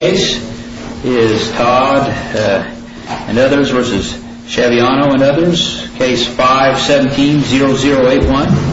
Case is Todd and others v. Chaviano and others. Case 5-17-0081. Case 5-17-0081. Case 5-17-0081.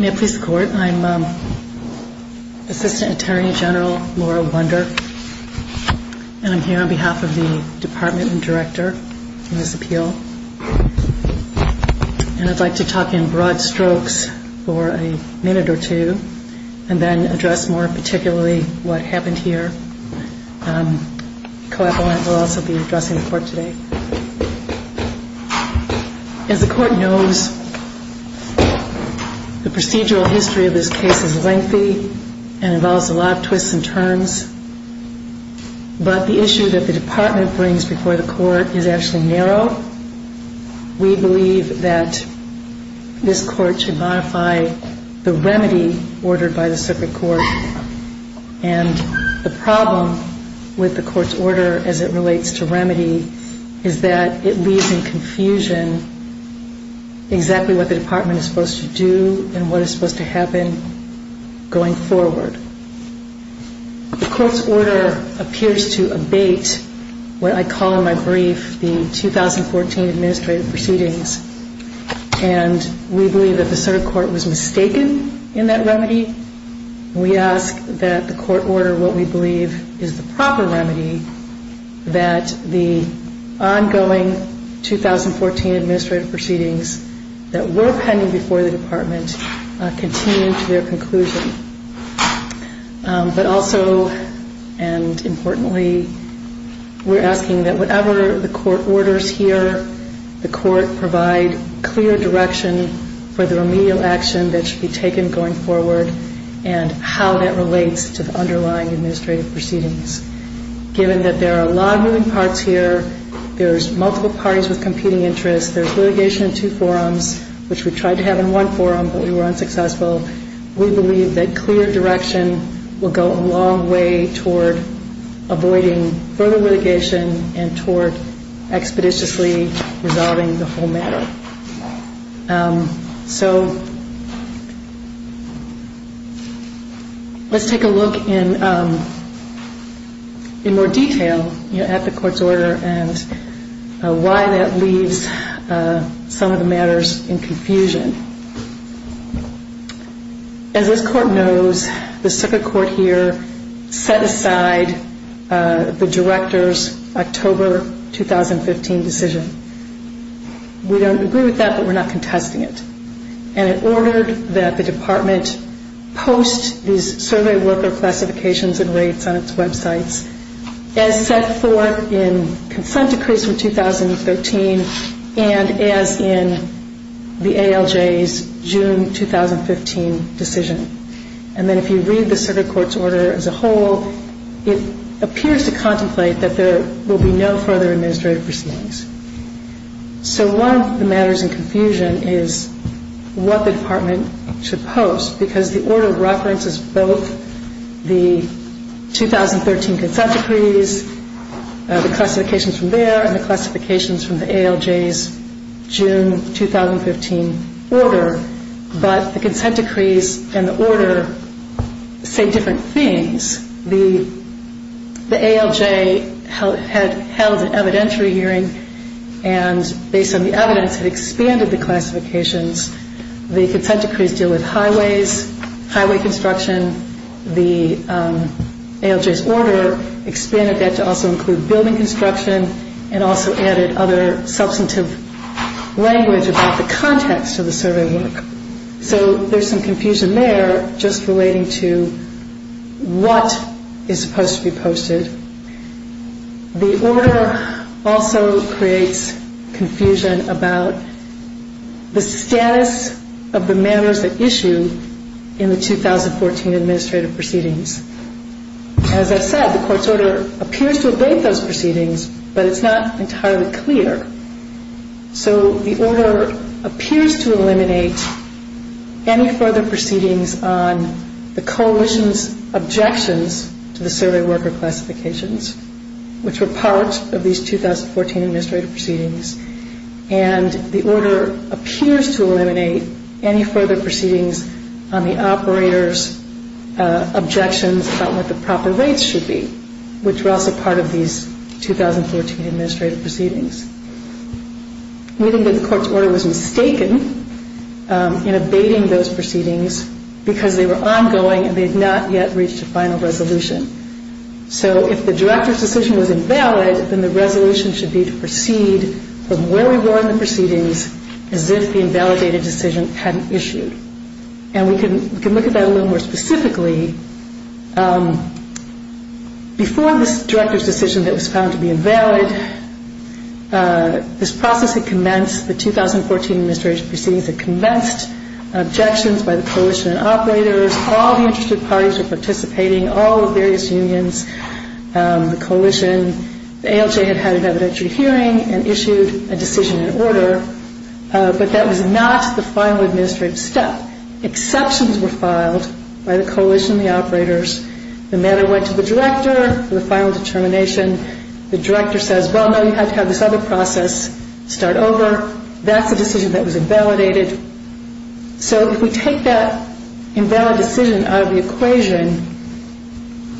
May it please the Court, I'm Assistant Attorney General Laura Wunder. And I'm here on behalf of the Department and Director on this appeal. And I'd like to talk in broad strokes for a minute or two and then address more particularly what happened here. Co-appellant will also be addressing the Court today. As the Court knows, the procedural history of this case is lengthy and involves a lot of twists and turns. But the issue that the Department brings before the Court is actually narrow. We believe that this Court should modify the remedy ordered by the Circuit Court. And the problem with the Court's order as it relates to remedy is that it leaves in confusion exactly what the Department is supposed to do and what is supposed to happen going forward. The Court's order appears to abate what I call in my brief the 2014 administrative proceedings. And we believe that the Circuit Court was mistaken in that remedy. We ask that the Court order what we believe is the proper remedy that the ongoing 2014 administrative proceedings that were pending before the Department continue to their conclusion. But also and importantly, we're asking that whatever the Court orders here, the Court provide clear direction for the remedial action that should be taken going forward and how that relates to the underlying administrative proceedings. Given that there are a lot of moving parts here, there's multiple parties with competing interests, there's litigation in two forums, which we tried to have in one forum but we were unsuccessful. We believe that clear direction will go a long way toward avoiding further litigation and toward expeditiously resolving the whole matter. So let's take a look in more detail at the Court's order and why that leaves some of the matters in confusion. As this Court knows, the Circuit Court here set aside the Director's October 2015 decision. We don't agree with that, but we're not contesting it. And it ordered that the Department post these survey worker classifications and rates on its websites as set forth in consent decrees from 2013 and as in the ALJ's June 2015 decision. And then if you read the Circuit Court's order as a whole, it appears to contemplate that there will be no further administrative proceedings. So one of the matters in confusion is what the Department should post, because the order references both the 2013 consent decrees, the classifications from there, and the classifications from the ALJ's June 2015 order. But the consent decrees and the order say different things. The ALJ had held an evidentiary hearing, and based on the evidence, it expanded the classifications. The consent decrees deal with highways, highway construction. The ALJ's order expanded that to also include building construction and also added other substantive language about the context of the survey work. So there's some confusion there just relating to what is supposed to be posted. The order also creates confusion about the status of the matters at issue in the 2014 administrative proceedings. As I said, the Court's order appears to abate those proceedings, but it's not entirely clear. So the order appears to eliminate any further proceedings on the Coalition's objections to the survey worker classifications, which were part of these 2014 administrative proceedings. And the order appears to eliminate any further proceedings on the operators' objections about what the proper rates should be, which were also part of these 2014 administrative proceedings. We think that the Court's order was mistaken in abating those proceedings because they were ongoing and they had not yet reached a final resolution. So if the director's decision was invalid, then the resolution should be to proceed from where we were in the proceedings as if the invalidated decision hadn't issued. And we can look at that a little more specifically. Before this director's decision that was found to be invalid, this process had commenced. The 2014 administrative proceedings had commenced, objections by the Coalition and operators, all the interested parties were participating, all the various unions, the Coalition. The ALJ had had an evidentiary hearing and issued a decision and order, but that was not the final administrative step. Exceptions were filed by the Coalition and the operators. The matter went to the director for the final determination. The director says, well, no, you have to have this other process start over. That's a decision that was invalidated. So if we take that invalid decision out of the equation,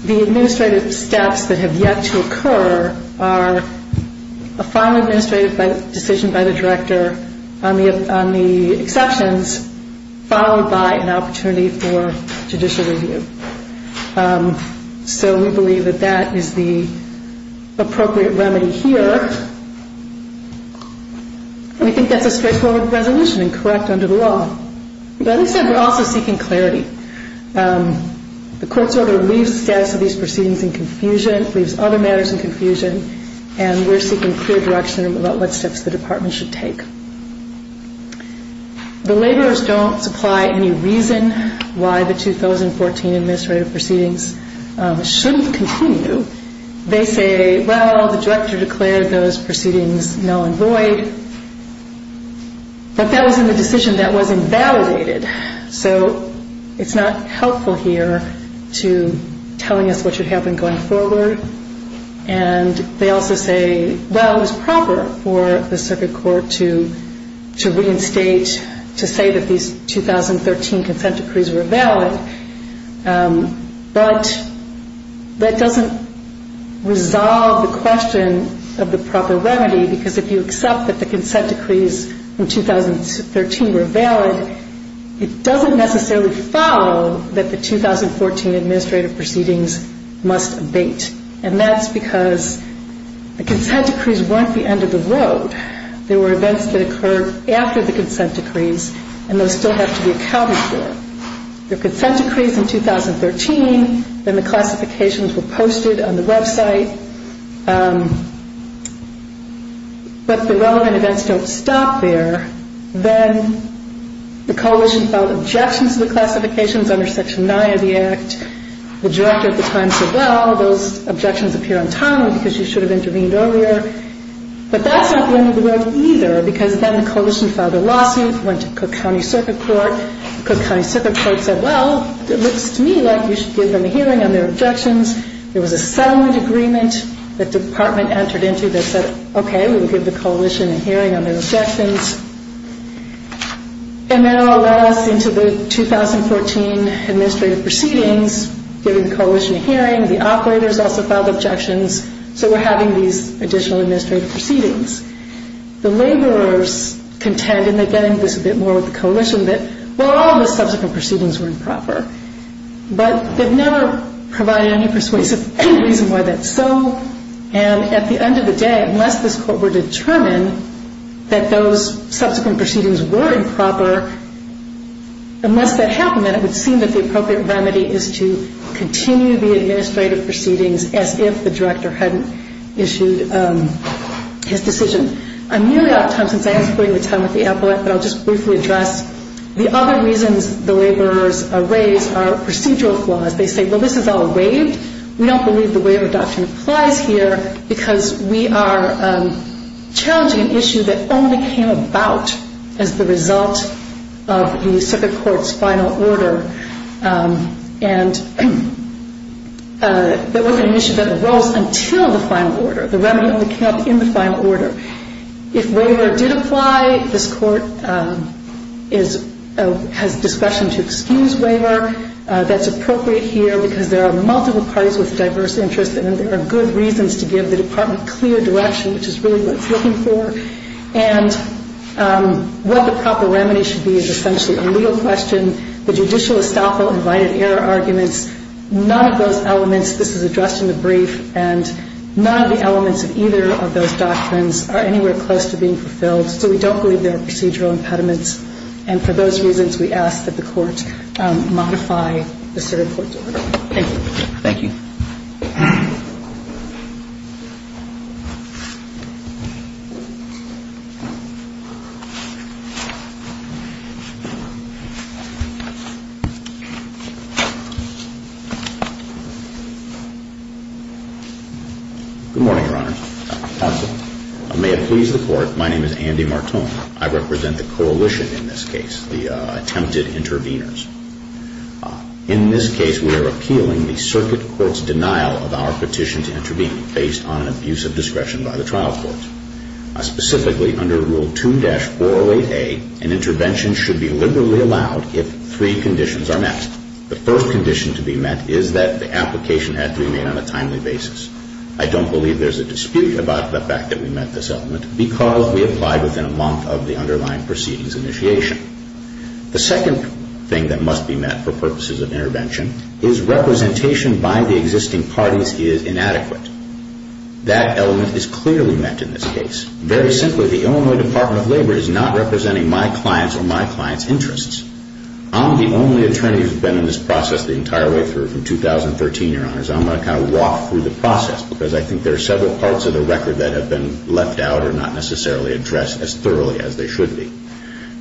the administrative steps that have yet to occur are a final administrative decision by the director on the exceptions, final administrative decision by the Coalition, and a final administrative decision by the operators. And that's followed by an opportunity for judicial review. So we believe that that is the appropriate remedy here. And we think that's a straightforward resolution and correct under the law. But as I said, we're also seeking clarity. The court's order leaves the status of these proceedings in confusion, leaves other matters in confusion, and we're seeking clear direction about what steps the department should take. The laborers don't supply any reason why the 2014 administrative proceedings shouldn't continue. They say, well, the director declared those proceedings null and void. But that was in the decision that was invalidated. So it's not helpful here to telling us what should happen going forward. And they also say, well, it was proper for the circuit court to reinstate, to say that these 2013 consent decrees were valid. But that doesn't resolve the question of the proper remedy, because if you accept that the consent decrees in 2013 were valid, it doesn't necessarily follow that the 2014 administrative proceedings must abate. And that's because the consent decrees weren't the end of the road. There were events that occurred after the consent decrees, and those still have to be accounted for. The consent decrees in 2013, then the classifications were posted on the website. But the relevant events don't stop there. Then the coalition filed objections to the classifications under Section 9 of the Act. The director at the time said, well, those objections appear untimely because you should have intervened earlier. But that's not the end of the road either, because then the coalition filed a lawsuit, went to Cook County Circuit Court. Cook County Circuit Court said, well, it looks to me like you should give them a hearing on their objections. There was a settlement agreement that the department entered into that said, okay, we will give the coalition a hearing on their objections. And that all led us into the 2014 administrative proceedings, giving the coalition a hearing. The operators also filed objections, so we're having these additional administrative proceedings. The laborers contend, and they get into this a bit more with the coalition, that, well, all the subsequent proceedings were improper. But they've never provided any persuasive reason why that's so. And at the end of the day, unless this court were to determine that those subsequent proceedings were improper, unless that happened, then it would seem that the appropriate remedy is to continue the administrative proceedings as if the director hadn't issued his decision. I'm nearly out of time, since I was putting the time at the appellate, but I'll just briefly address the other reasons the laborers raise are procedural flaws. They say, well, this is all waived. We don't believe the waiver doctrine applies here, because we are challenging an issue that only came about as the result of the circuit court's final order, and that wasn't an issue that arose until the final order. The remedy only came up in the final order. If waiver did apply, this Court has discretion to excuse waiver. That's appropriate here, because there are multiple parties with diverse interests, and there are good reasons to give the Department clear direction, which is really what it's looking for. And what the proper remedy should be is essentially a legal question. We don't believe there are procedural impediments in the judicial estoppel and right of error arguments. None of those elements, this is addressed in the brief, and none of the elements of either of those doctrines are anywhere close to being fulfilled. So we don't believe there are procedural impediments, and for those reasons, we ask that the Court modify the circuit court's order. Thank you. Good morning, Your Honor. May it please the Court, my name is Andy Martone. I represent the coalition in this case, the attempted interveners. In this case, we are appealing the circuit court's denial of our petition to intervene, based on an abuse of discretion by the trial court. Specifically, under Rule 2-408A, an intervention should be liberally allowed if three conditions are met. The first condition to be met is that the application had to be made on a timely basis. I don't believe there's a dispute about the fact that we met this element, because we applied within a month of the underlying proceedings initiation. The second thing that must be met for purposes of intervention is representation by the existing parties is inadequate. That element is clearly met in this case. Very simply, the Illinois Department of Labor is not representing my client's or my client's interests. I'm the only attorney who's been in this process the entire way through, from 2013, Your Honor. So I'm going to kind of walk through the process, because I think there are several parts of the record that have been left out or not necessarily addressed as thoroughly as they should be.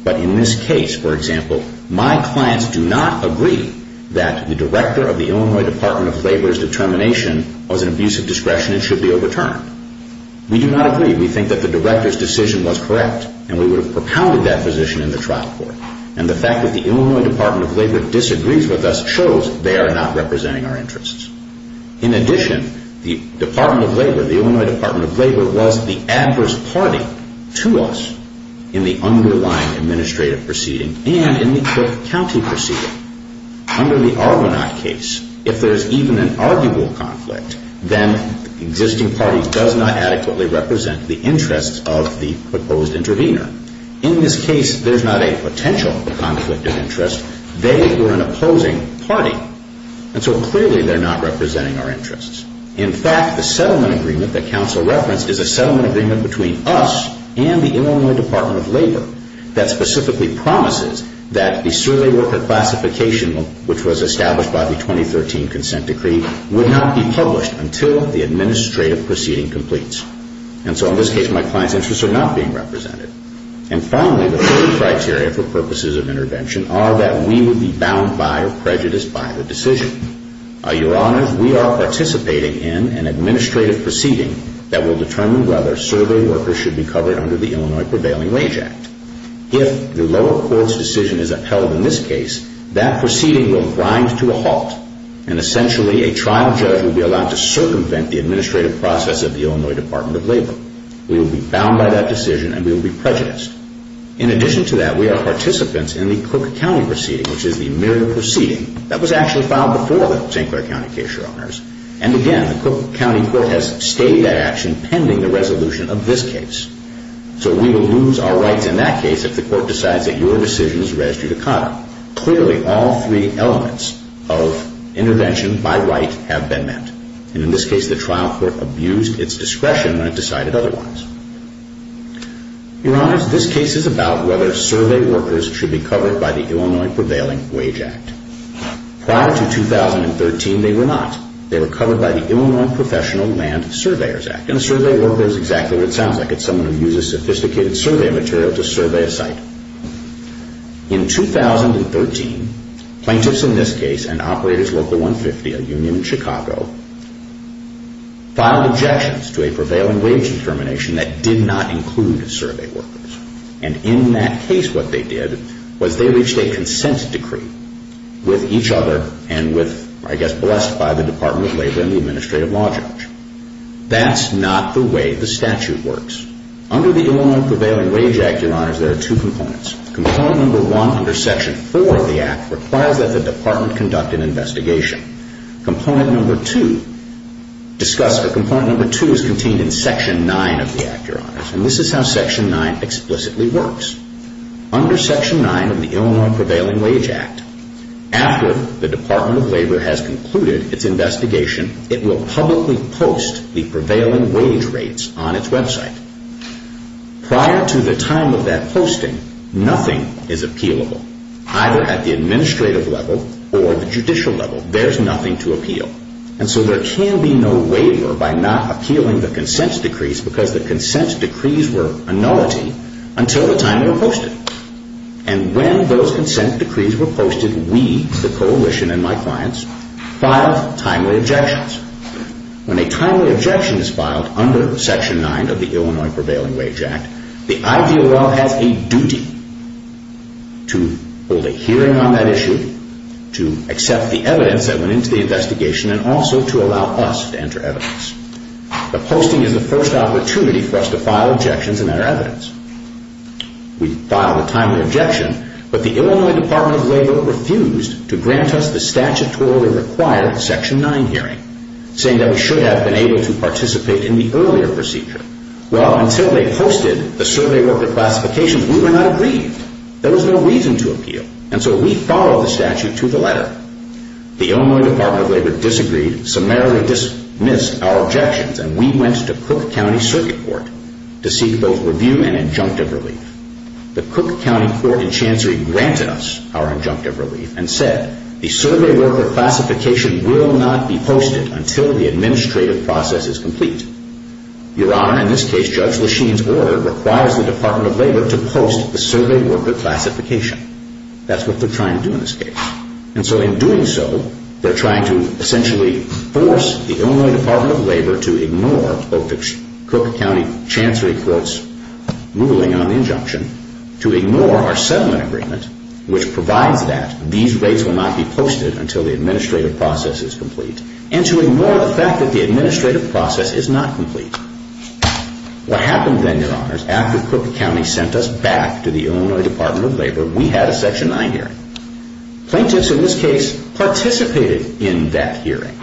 But in this case, for example, my clients do not agree that the director of the Illinois Department of Labor's determination was an abuse of discretion and should be overturned. We do not agree. We think that the director's decision was correct, and we would have propounded that position in the trial court. And the fact that the Illinois Department of Labor disagrees with us shows they are not representing our interests. In addition, the Illinois Department of Labor was the adverse party to us in the underlying administrative proceeding and in the Cook County proceeding. Under the Argonaut case, if there's even an arguable conflict, then existing parties does not adequately represent the interests of the proposed intervener. In this case, there's not a potential conflict of interest. They were an opposing party. And so clearly they're not representing our interests. In fact, the settlement agreement that counsel referenced is a settlement agreement between us and the Illinois Department of Labor that specifically promises that the surly worker classification, which was established by the 2013 consent decree, would not be published until the administrative proceeding completes. And so in this case, my client's interests are not being represented. And finally, the third criteria for purposes of intervention are that we would be bound by or prejudiced by the decision. Your Honors, we are participating in an administrative proceeding that will determine whether surly workers should be covered under the Illinois Prevailing Wage Act. If the lower court's decision is upheld in this case, that proceeding will grind to a halt. And essentially, a trial judge will be allowed to circumvent the administrative process of the Illinois Department of Labor. We will be bound by that decision, and we will be prejudiced. In addition to that, we are participants in the Cook County proceeding, which is the mere proceeding that was actually filed before the St. Clair County case, Your Honors. And again, the Cook County court has stayed that action pending the resolution of this case. So we will lose our rights in that case if the court decides that your decision is registered to COTA. Clearly, all three elements of intervention by right have been met. And in this case, the trial court abused its discretion when it decided otherwise. Your Honors, this case is about whether survey workers should be covered by the Illinois Prevailing Wage Act. Prior to 2013, they were not. They were covered by the Illinois Professional Land Surveyors Act. And a survey worker is exactly what it sounds like. It's someone who uses sophisticated survey material to survey a site. In 2013, plaintiffs in this case and Operators Local 150, a union in Chicago, filed objections to a prevailing wage determination that did not include survey workers. And in that case, what they did was they reached a consent decree with each other and with, I guess, blessed by the Department of Labor and the administrative law judge. That's not the way the statute works. Under the Illinois Prevailing Wage Act, Your Honors, there are two components. Component number one, under Section 4 of the Act, requires that the Department conduct an investigation. Component number two is contained in Section 9 of the Act, Your Honors. And this is how Section 9 explicitly works. Under Section 9 of the Illinois Prevailing Wage Act, after the Department of Labor has concluded its investigation, it will publicly post the prevailing wage rates on its website. Prior to the time of that posting, nothing is appealable, either at the administrative level or the judicial level. There's nothing to appeal. And so there can be no waiver by not appealing the consent decrees because the consent decrees were annullity until the time they were posted. And when those consent decrees were posted, we, the coalition and my clients, filed timely objections. When a timely objection is filed under Section 9 of the Illinois Prevailing Wage Act, the IDOL has a duty to hold a hearing on that issue, to accept the evidence that went into the investigation, and also to allow us to enter evidence. The posting is the first opportunity for us to file objections and enter evidence. We filed a timely objection, but the Illinois Department of Labor refused to grant us the statutorily required Section 9 hearing, saying that we should have been able to participate in the earlier procedure. Well, until they posted the survey worker classifications, we were not agreed. There was no reason to appeal. And so we followed the statute to the letter. The Illinois Department of Labor disagreed, summarily dismissed our objections, and we went to Cook County Circuit Court to seek both review and injunctive relief. The Cook County Court and Chancery granted us our injunctive relief and said, the survey worker classification will not be posted until the administrative process is complete. Your Honor, in this case, Judge Lesheen's order requires the Department of Labor to post the survey worker classification. That's what they're trying to do in this case. And so in doing so, they're trying to essentially force the Illinois Department of Labor to ignore both the Cook County Chancery Court's ruling on the injunction, to ignore our settlement agreement, which provides that these rates will not be posted until the administrative process is complete, and to ignore the fact that the administrative process is not complete. What happened then, Your Honors, after Cook County sent us back to the Illinois Department of Labor, we had a Section 9 hearing. Plaintiffs in this case participated in that hearing.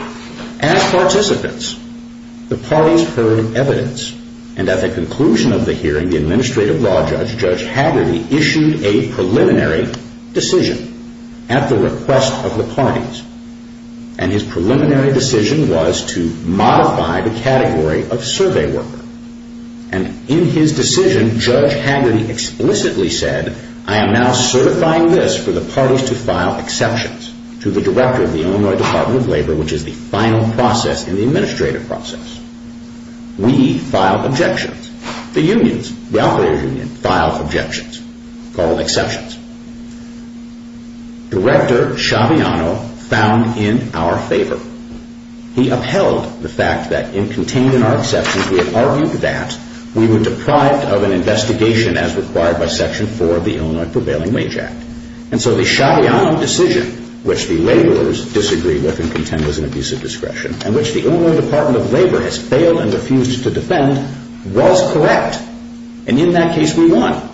As participants, the parties heard evidence, and at the conclusion of the hearing, the Administrative Law Judge, Judge Haggerty, issued a preliminary decision at the request of the parties. And his preliminary decision was to modify the category of survey worker. And in his decision, Judge Haggerty explicitly said, I am now certifying this for the parties to file exceptions to the Director of the Illinois Department of Labor, which is the final process in the administrative process. We file objections. The unions, the operator's union, filed objections, called exceptions. Director Schiaviano found in our favor. He upheld the fact that in containing our exceptions, he had argued that we were deprived of an investigation as required by Section 4 of the Illinois Prevailing Wage Act. And so the Schiaviano decision, which the laborers disagreed with and contend was an abuse of discretion, and which the Illinois Department of Labor has failed and refused to defend, was correct. And in that case, we won.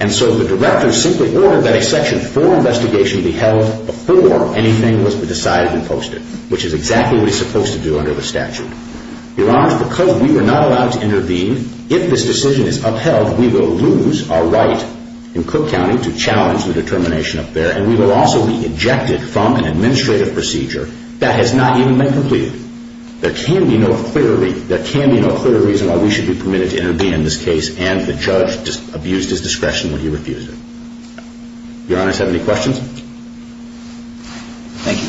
And so the Director simply ordered that a Section 4 investigation be held before anything was to be decided and posted, which is exactly what he's supposed to do under the statute. Your Honor, because we were not allowed to intervene, if this decision is upheld, we will lose our right in Cook County to challenge the determination up there, and we will also be ejected from an administrative procedure that has not even been completed. There can be no clear reason why we should be permitted to intervene in this case, and the judge abused his discretion when he refused it. Your Honor, do you have any questions? Thank you.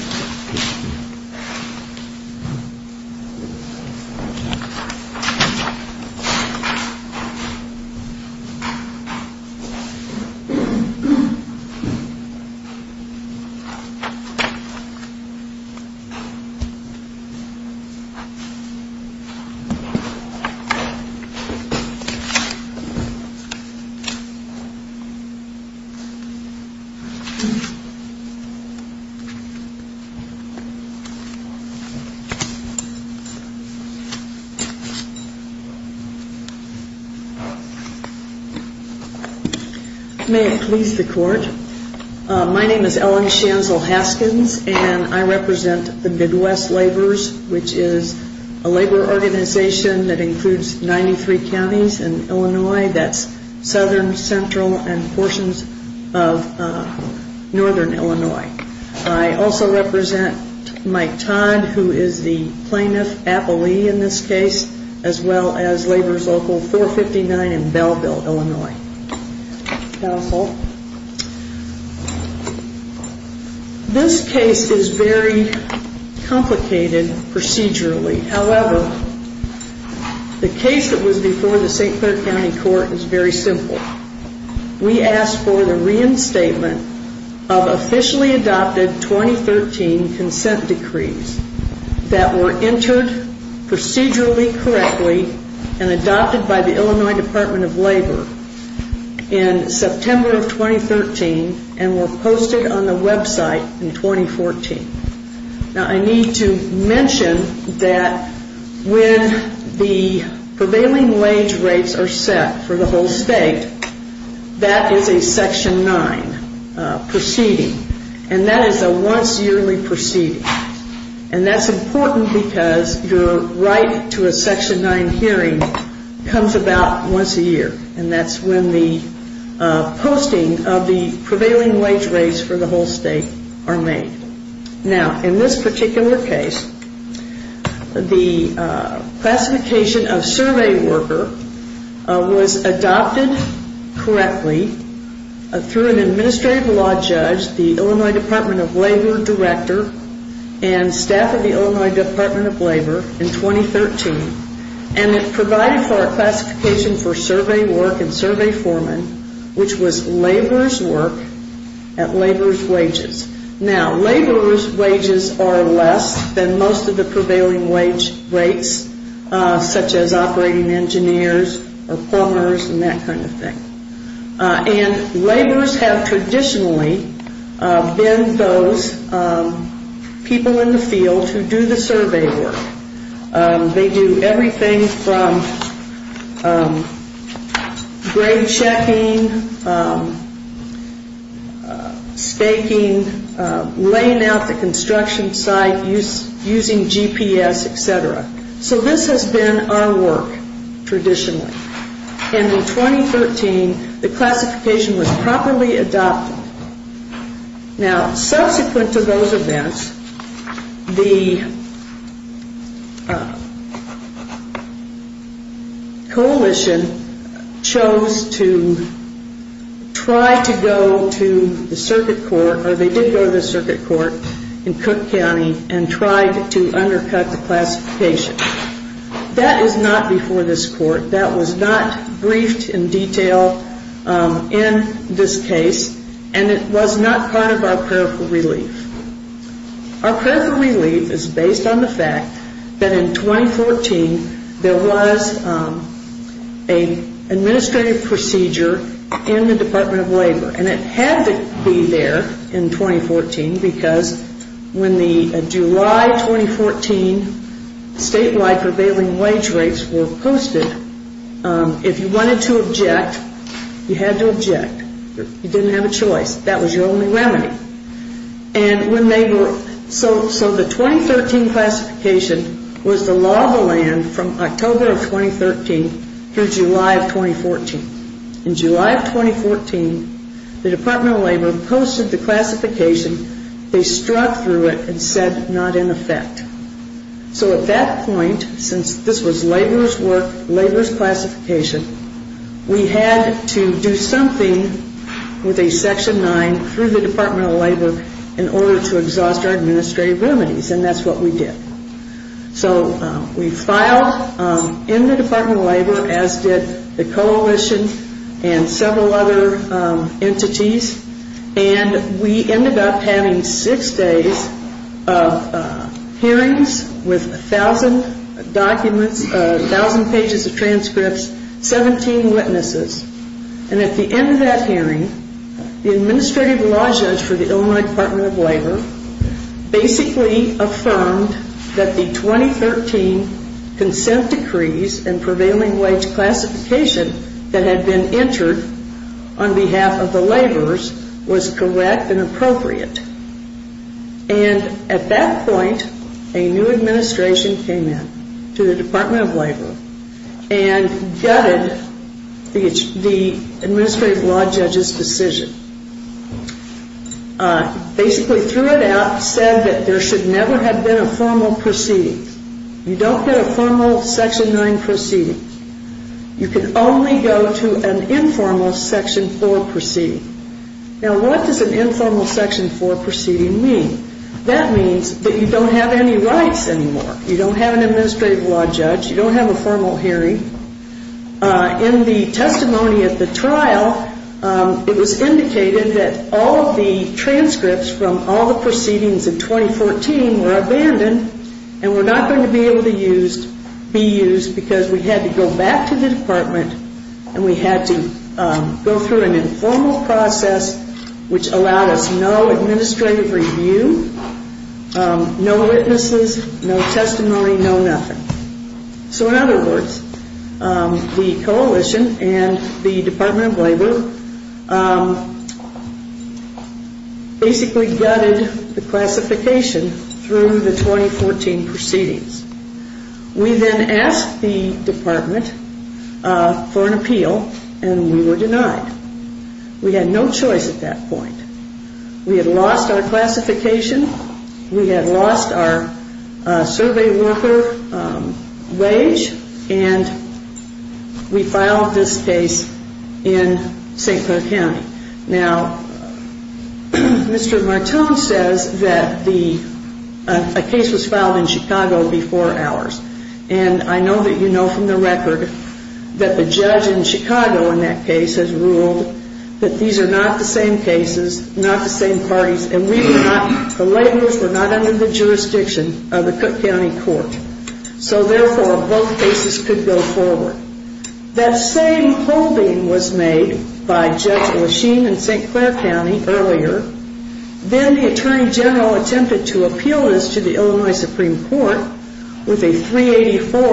May it please the Court. My name is Ellen Schanzel-Haskins, and I represent the Midwest Laborers, which is a labor organization that includes 93 counties in Illinois. That's southern, central, and portions of northern Illinois. I also represent Mike Todd, who is the Plaintiff Appellee in this case, as well as Laborers Local 459 in Belleville, Illinois. Counsel. This case is very complicated procedurally. However, the case that was before the St. Clair County Court is very simple. We asked for the reinstatement of officially adopted 2013 consent decrees that were entered procedurally correctly and adopted by the Illinois Department of Labor in September of 2013 and were posted on the website in 2014. Now, I need to mention that when the prevailing wage rates are set for the whole state, that is a Section 9 proceeding, and that is a once yearly proceeding. And that's important because your right to a Section 9 hearing comes about once a year, and that's when the posting of the prevailing wage rates for the whole state are made. Now, in this particular case, the classification of survey worker was adopted correctly through an administrative law judge, the Illinois Department of Labor director, and staff of the Illinois Department of Labor in 2013, and it provided for a classification for survey work and survey foreman, which was laborer's work at laborer's wages. Now, laborer's wages are less than most of the prevailing wage rates, such as operating engineers or plumbers and that kind of thing. And laborers have traditionally been those people in the field who do the survey work. They do everything from grade checking, staking, laying out the construction site, using GPS, et cetera. So this has been our work traditionally. And in 2013, the classification was properly adopted. Now, subsequent to those events, the coalition chose to try to go to the circuit court, or they did go to the circuit court in Cook County and tried to undercut the classification. That is not before this court. That was not briefed in detail in this case, and it was not part of our prayerful relief. Our prayerful relief is based on the fact that in 2014, there was an administrative procedure in the Department of Labor, and it had to be there in 2014 because when the July 2014 statewide prevailing wage rates were posted, if you wanted to object, you had to object. You didn't have a choice. That was your only remedy. And so the 2013 classification was the law of the land from October of 2013 through July of 2014. In July of 2014, the Department of Labor posted the classification. They struck through it and said not in effect. So at that point, since this was Labor's work, Labor's classification, we had to do something with a Section 9 through the Department of Labor in order to exhaust our administrative remedies, and that's what we did. So we filed in the Department of Labor, as did the coalition and several other entities, and we ended up having six days of hearings with 1,000 documents, 1,000 pages of transcripts, 17 witnesses. And at the end of that hearing, the administrative law judge for the Illinois Department of Labor basically affirmed that the 2013 consent decrees and prevailing wage classification that had been entered on behalf of the laborers was correct and appropriate. And at that point, a new administration came in to the Department of Labor and gutted the administrative law judge's decision. Basically threw it out, said that there should never have been a formal proceeding. You don't get a formal Section 9 proceeding. You can only go to an informal Section 4 proceeding. Now, what does an informal Section 4 proceeding mean? That means that you don't have any rights anymore. You don't have an administrative law judge. You don't have a formal hearing. In the testimony at the trial, it was indicated that all of the transcripts from all the proceedings in 2014 were abandoned and were not going to be able to be used because we had to go back to the department and we had to go through an informal process which allowed us no administrative review, no witnesses, no testimony, no nothing. So in other words, the coalition and the Department of Labor basically gutted the classification through the 2014 proceedings. We then asked the department for an appeal and we were denied. We had no choice at that point. We had lost our classification. We had lost our survey worker wage, and we filed this case in St. Clair County. Now, Mr. Martone says that a case was filed in Chicago before ours, and I know that you know from the record that the judge in Chicago in that case has ruled that these are not the same cases, not the same parties, and we were not, the laborers were not under the jurisdiction of the Cook County Court. So therefore, both cases could go forward. That same holding was made by Judge Lesheen in St. Clair County earlier. Then the Attorney General attempted to appeal this to the Illinois Supreme Court with a 384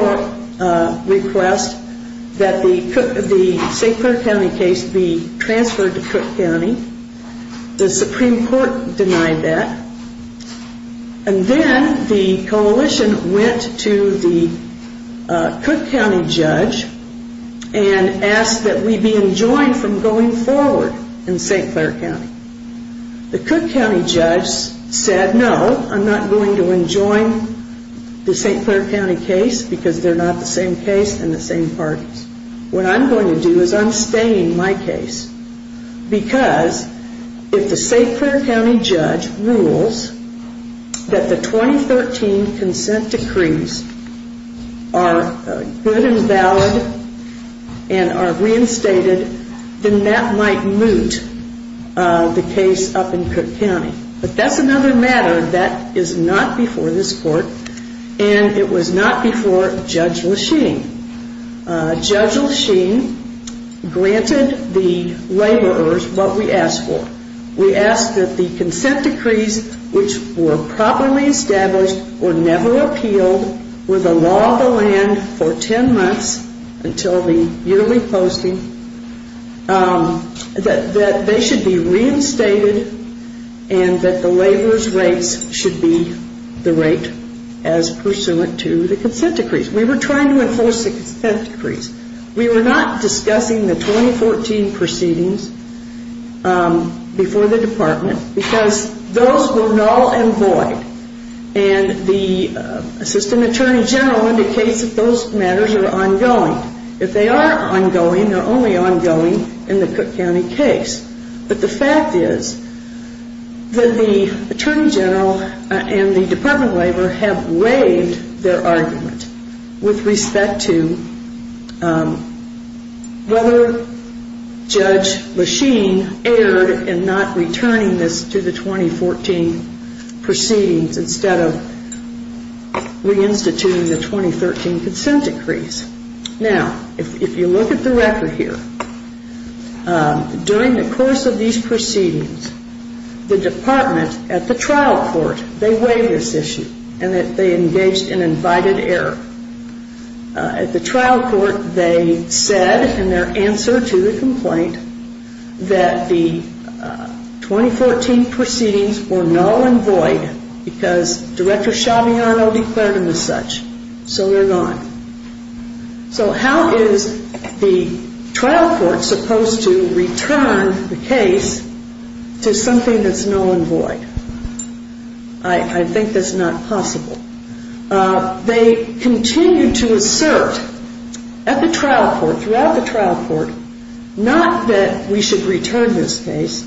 request that the St. Clair County case be transferred to Cook County. The Supreme Court denied that, and then the coalition went to the Cook County judge and asked that we be enjoined from going forward in St. Clair County. The Cook County judge said, no, I'm not going to enjoin the St. Clair County case because they're not the same case and the same parties. What I'm going to do is I'm staying my case because if the St. Clair County judge rules that the 2013 consent decrees are good and valid and are reinstated, then that might moot the case up in Cook County. But that's another matter that is not before this court, and it was not before Judge Lesheen. Judge Lesheen granted the laborers what we asked for. We asked that the consent decrees which were properly established or never appealed were the law of the land for 10 months until the yearly posting, that they should be reinstated and that the laborers' rates should be the rate as pursuant to the consent decrees. We were trying to enforce the consent decrees. We were not discussing the 2014 proceedings before the department because those were null and void, and the assistant attorney general indicates that those matters are ongoing. If they are ongoing, they're only ongoing in the Cook County case. But the fact is that the attorney general and the Department of Labor have waived their argument with respect to whether Judge Lesheen erred in not returning this to the 2014 proceedings instead of reinstituting the 2013 consent decrees. Now, if you look at the record here, during the course of these proceedings, the department at the trial court, they waived this issue and they engaged in invited error. At the trial court, they said in their answer to the complaint that the 2014 proceedings were null and void because Director Shabiano declared them as such. So they're gone. So how is the trial court supposed to return the case to something that's null and void? I think that's not possible. They continued to assert at the trial court, throughout the trial court, not that we should return this case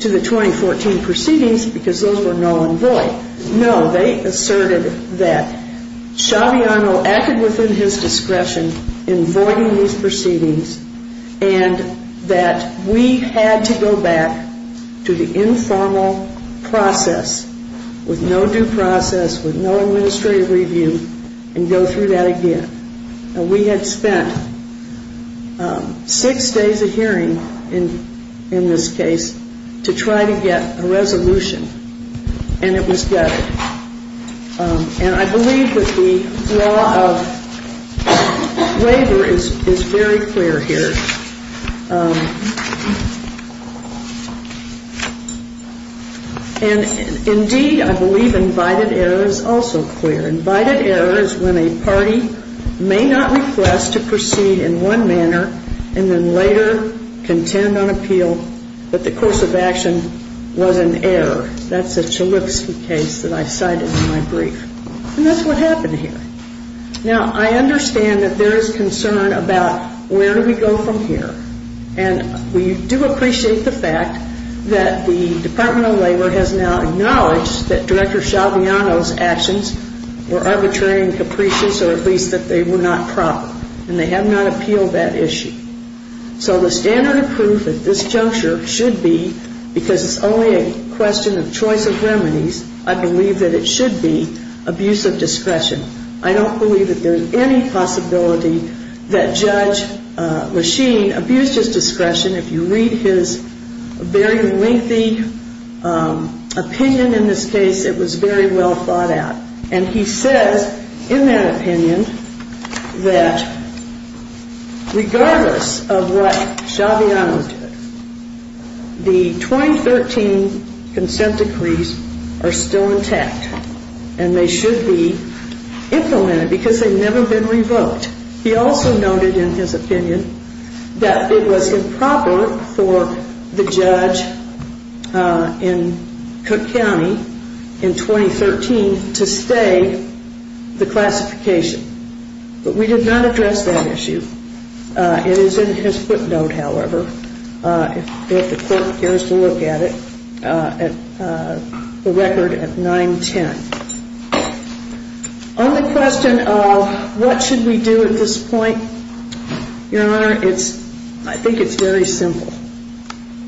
to the 2014 proceedings because those were null and void. No, they asserted that Shabiano acted within his discretion in voiding these proceedings and that we had to go back to the informal process with no due process, with no administrative review, and go through that again. We had spent six days of hearing in this case to try to get a resolution, and it was gutted. And I believe that the law of waiver is very clear here. And indeed, I believe invited error is also clear. Invited error is when a party may not request to proceed in one manner and then later contend on appeal that the course of action was an error. That's a Chalupski case that I cited in my brief. And that's what happened here. Now, I understand that there is concern about where do we go from here. And we do appreciate the fact that the Department of Labor has now acknowledged that Director Shabiano's actions were arbitrary and capricious, or at least that they were not proper. And they have not appealed that issue. So the standard of proof at this juncture should be, because it's only a question of choice of remedies, I believe that it should be abuse of discretion. I don't believe that there's any possibility that Judge Lasheen abused his discretion. If you read his very lengthy opinion in this case, it was very well thought out. And he says in that opinion that regardless of what Shabiano did, the 2013 consent decrees are still intact, and they should be implemented because they've never been revoked. He also noted in his opinion that it was improper for the judge in Cook County in 2013 to stay the classification. But we did not address that issue. It is in his footnote, however, if the court cares to look at it, the record at 910. On the question of what should we do at this point, Your Honor, I think it's very simple.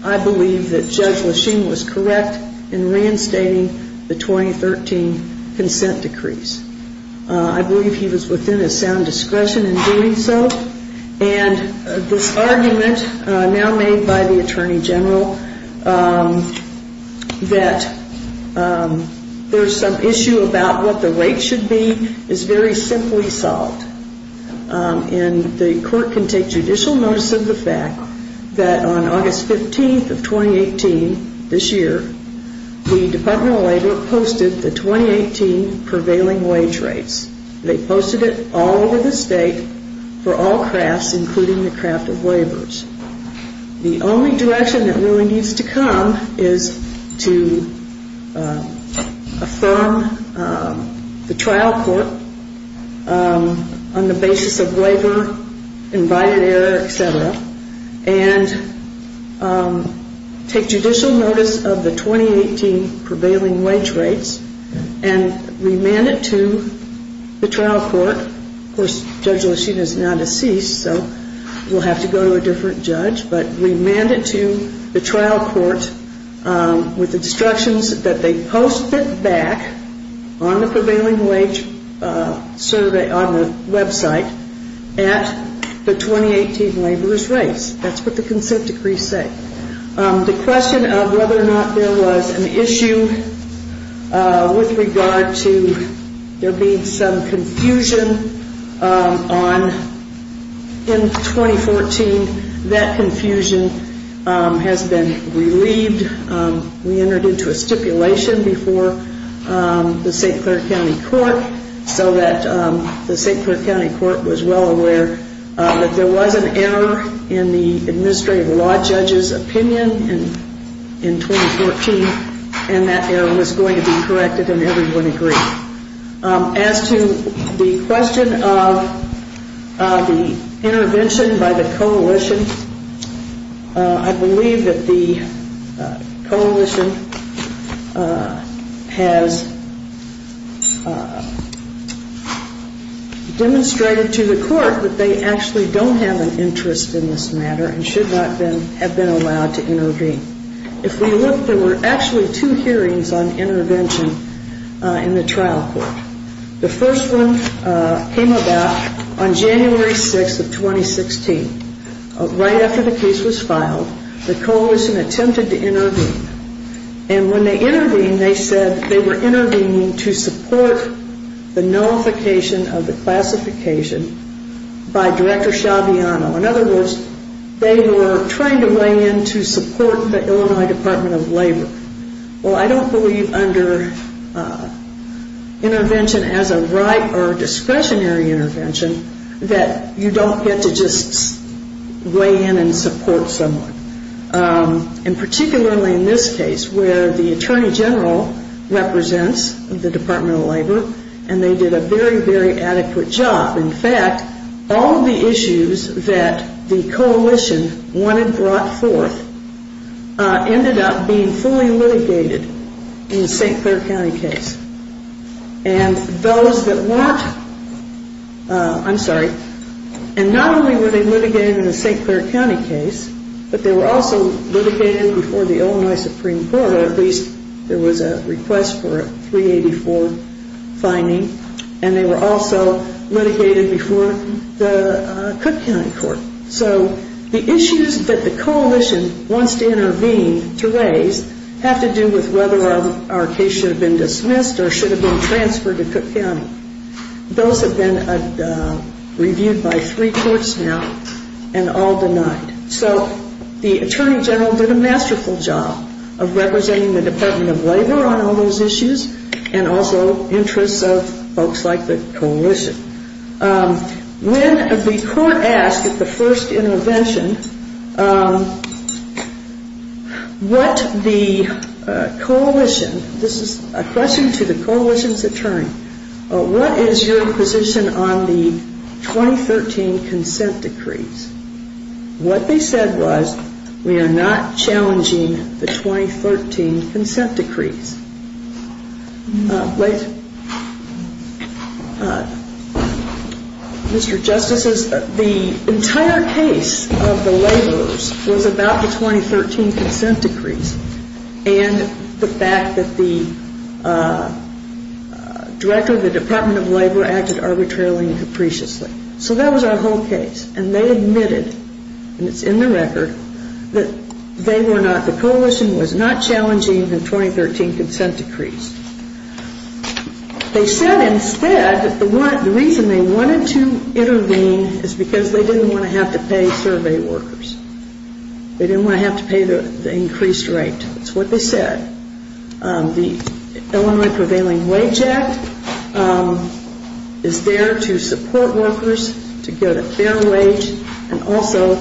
I believe that Judge Lasheen was correct in reinstating the 2013 consent decrees. I believe he was within his sound discretion in doing so. And this argument now made by the Attorney General that there's some issue about what the rate should be is very simply solved. And the court can take judicial notice of the fact that on August 15th of 2018, this year, the Department of Labor posted the 2018 prevailing wage rates. They posted it all over the state for all crafts, including the craft of laborers. The only direction that really needs to come is to affirm the trial court on the basis of labor, invited error, et cetera, and take judicial notice of the 2018 prevailing wage rates and remand it to the trial court. Of course, Judge Lasheen is now deceased, so we'll have to go to a different judge. But remand it to the trial court with instructions that they post it back on the prevailing wage survey on the website at the 2018 laborers' rates. That's what the consent decrees say. The question of whether or not there was an issue with regard to there being some confusion on in 2014, that confusion has been relieved. We entered into a stipulation before the St. Clair County Court so that the St. Clair County Court was well aware that there was an error in the administrative law judge's opinion in 2014, and that error was going to be corrected and everyone agreed. As to the question of the intervention by the coalition, I believe that the coalition has demonstrated to the court that they actually don't have an interest in this matter and should not have been allowed to intervene. If we look, there were actually two hearings on intervention in the trial court. The first one came about on January 6th of 2016. Right after the case was filed, the coalition attempted to intervene. And when they intervened, they said they were intervening to support the nullification of the classification by Director Schiaviano. In other words, they were trying to weigh in to support the Illinois Department of Labor. Well, I don't believe under intervention as a right or discretionary intervention that you don't get to just weigh in and support someone. And particularly in this case where the Attorney General represents the Department of Labor and they did a very, very adequate job. In fact, all of the issues that the coalition wanted brought forth ended up being fully litigated in the St. Clair County case. And those that weren't, I'm sorry, and not only were they litigated in the St. Clair County case, but they were also litigated before the Illinois Supreme Court, or at least there was a request for a 384 finding. And they were also litigated before the Cook County Court. So the issues that the coalition wants to intervene to raise have to do with whether our case should have been dismissed or should have been transferred to Cook County. Those have been reviewed by three courts now and all denied. So the Attorney General did a masterful job of representing the Department of Labor on all those issues and also interests of folks like the coalition. When the court asked at the first intervention what the coalition, this is a question to the coalition's attorney, what is your position on the 2013 consent decrees? What they said was, we are not challenging the 2013 consent decrees. Mr. Justices, the entire case of the laborers was about the 2013 consent decrees and the fact that the Director of the Department of Labor acted arbitrarily and capriciously. So that was our whole case. And they admitted, and it's in the record, that they were not, the coalition was not challenging the 2013 consent decrees. They said instead that the reason they wanted to intervene is because they didn't want to have to pay survey workers. They didn't want to have to pay the increased rate. That's what they said. The Illinois Prevailing Wage Act is there to support workers to get a fair wage and also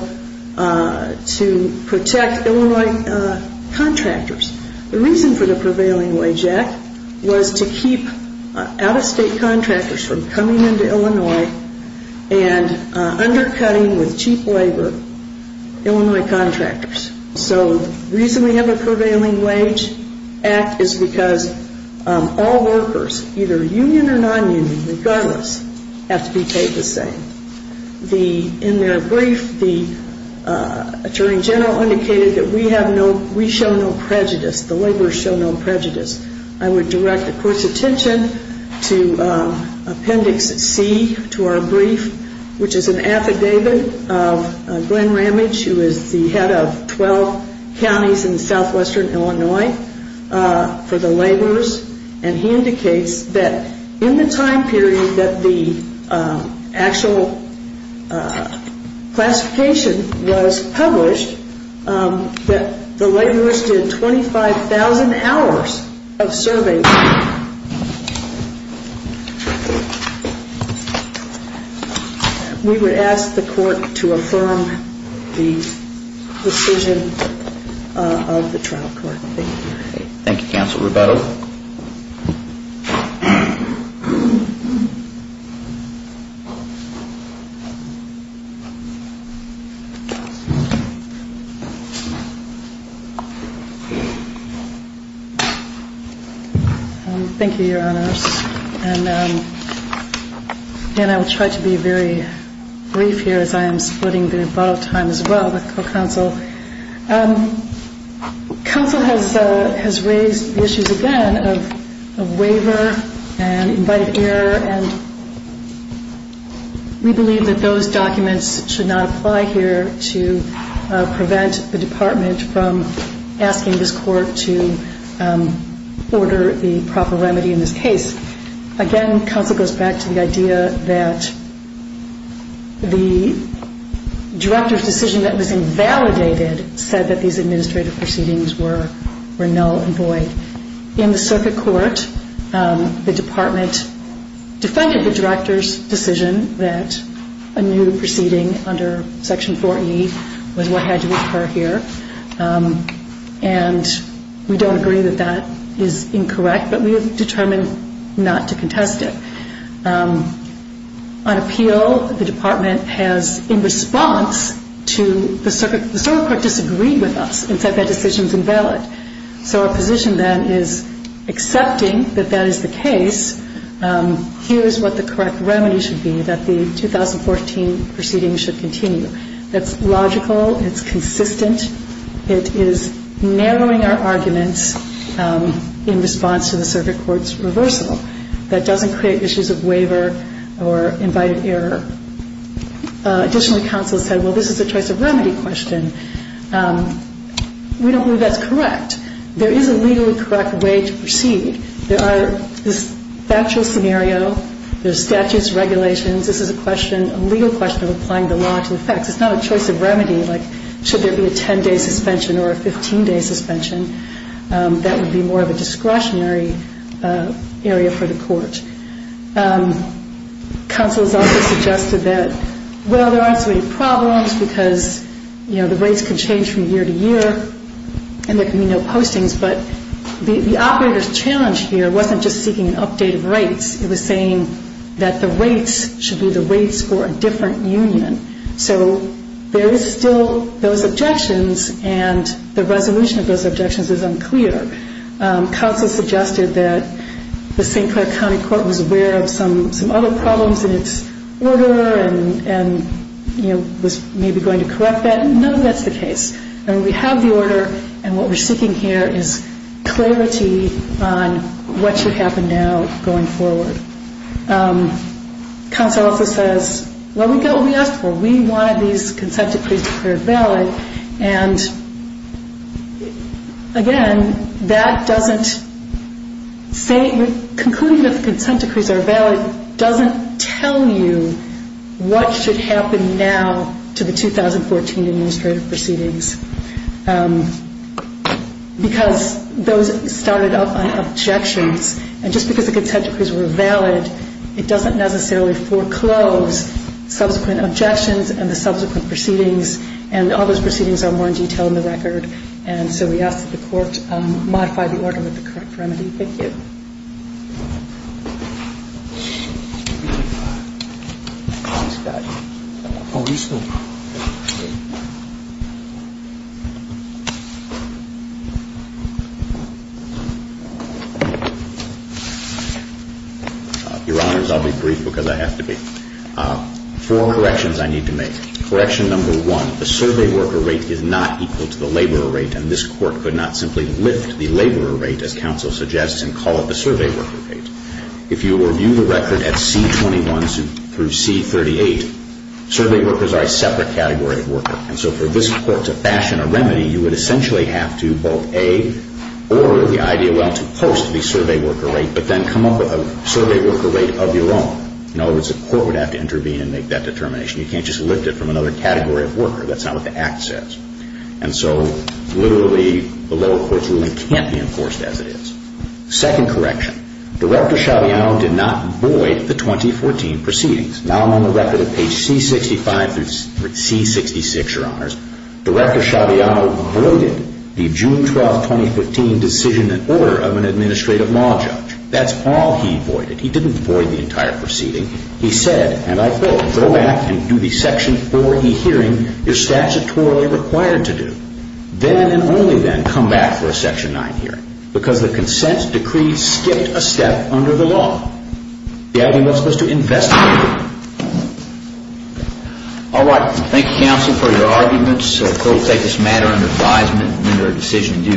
to protect Illinois contractors. The reason for the Prevailing Wage Act was to keep out-of-state contractors from coming into Illinois and undercutting with cheap labor Illinois contractors. So the reason we have a Prevailing Wage Act is because all workers, either union or non-union, regardless, have to be paid the same. In their brief, the Attorney General indicated that we show no prejudice. The laborers show no prejudice. I would direct the Court's attention to Appendix C to our brief, which is an affidavit of Glenn Ramage, who is the head of 12 counties in southwestern Illinois for the laborers, and he indicates that in the time period that the actual classification was published, that the laborers did 25,000 hours of survey work. We would ask the Court to affirm the decision of the trial court. Thank you. Thank you, Counsel Rebetto. Thank you, Your Honors. And I will try to be very brief here as I am splitting the time as well with the Court Counsel. Counsel has raised the issues again of waiver and invited error, and we believe that those documents should not apply here to prevent the Department from asking this Court to order the proper remedy in this case. Again, Counsel goes back to the idea that the Director's decision that was invalidated said that these administrative proceedings were null and void. In the Circuit Court, the Department defended the Director's decision that a new proceeding under Section 4E was what had to occur here, and we don't agree that that is incorrect, but we have determined not to contest it. On appeal, the Department has, in response to the Circuit, the Circuit Court disagreed with us and said that decision is invalid. So our position then is accepting that that is the case, here is what the correct remedy should be, that the 2014 proceeding should continue. That's logical, it's consistent, it is narrowing our arguments in response to the Circuit Court's reversal. That doesn't create issues of waiver or invited error. Additionally, Counsel said, well, this is a choice of remedy question. We don't believe that's correct. There is a legally correct way to proceed. There are factual scenario, there's statutes, regulations, this is a question, a legal question of applying the law to the facts. It's not a choice of remedy, like should there be a 10-day suspension or a 15-day suspension. That would be more of a discretionary area for the Court. Counsel has also suggested that, well, there aren't so many problems because the rates can change from year to year and there can be no postings, but the operator's challenge here wasn't just seeking an update of rates, it was saying that the rates should be the rates for a different union. So there is still those objections and the resolution of those objections is unclear. Counsel suggested that the St. Clair County Court was aware of some other problems in its order and was maybe going to correct that. No, that's the case. We have the order and what we're seeking here is clarity on what should happen now going forward. Counsel also says, well, we got what we asked for. We wanted these consent decrees to be declared valid. And, again, that doesn't say, concluding that the consent decrees are valid doesn't tell you what should happen now to the 2014 administrative proceedings because those started up on objections. And just because the consent decrees were valid, it doesn't necessarily foreclose subsequent objections and the subsequent proceedings. And all those proceedings are more in detail in the record. And so we ask that the Court modify the order with the correct remedy. Thank you. Your Honors, I'll be brief because I have to be. Four corrections I need to make. Correction number one, the survey worker rate is not equal to the laborer rate and this Court could not simply lift the laborer rate as counsel suggests and call it the survey worker rate. If you review the record at C-21 through C-38, survey workers are a separate category of worker. And so for this Court to fashion a remedy, you would essentially have to both A, order the IDLL to post the survey worker rate, but then come up with a survey worker rate of your own. In other words, the Court would have to intervene and make that determination. You can't just lift it from another category of worker. That's not what the Act says. And so literally the lower court's ruling can't be enforced as it is. Second correction, Director Schiaviano did not void the 2014 proceedings. Now I'm on the record at page C-65 through C-66, Your Honors. Director Schiaviano voided the June 12, 2015 decision and order of an administrative law judge. That's all he voided. He didn't void the entire proceeding. He said, and I quote, Go back and do the Section 4e hearing you're statutorily required to do. Then and only then come back for a Section 9 hearing because the consent decree skipped a step under the law. The idea was for us to investigate. All right. Thank you, Counsel, for your arguments. The Court will take this matter under advisement and enter a decision.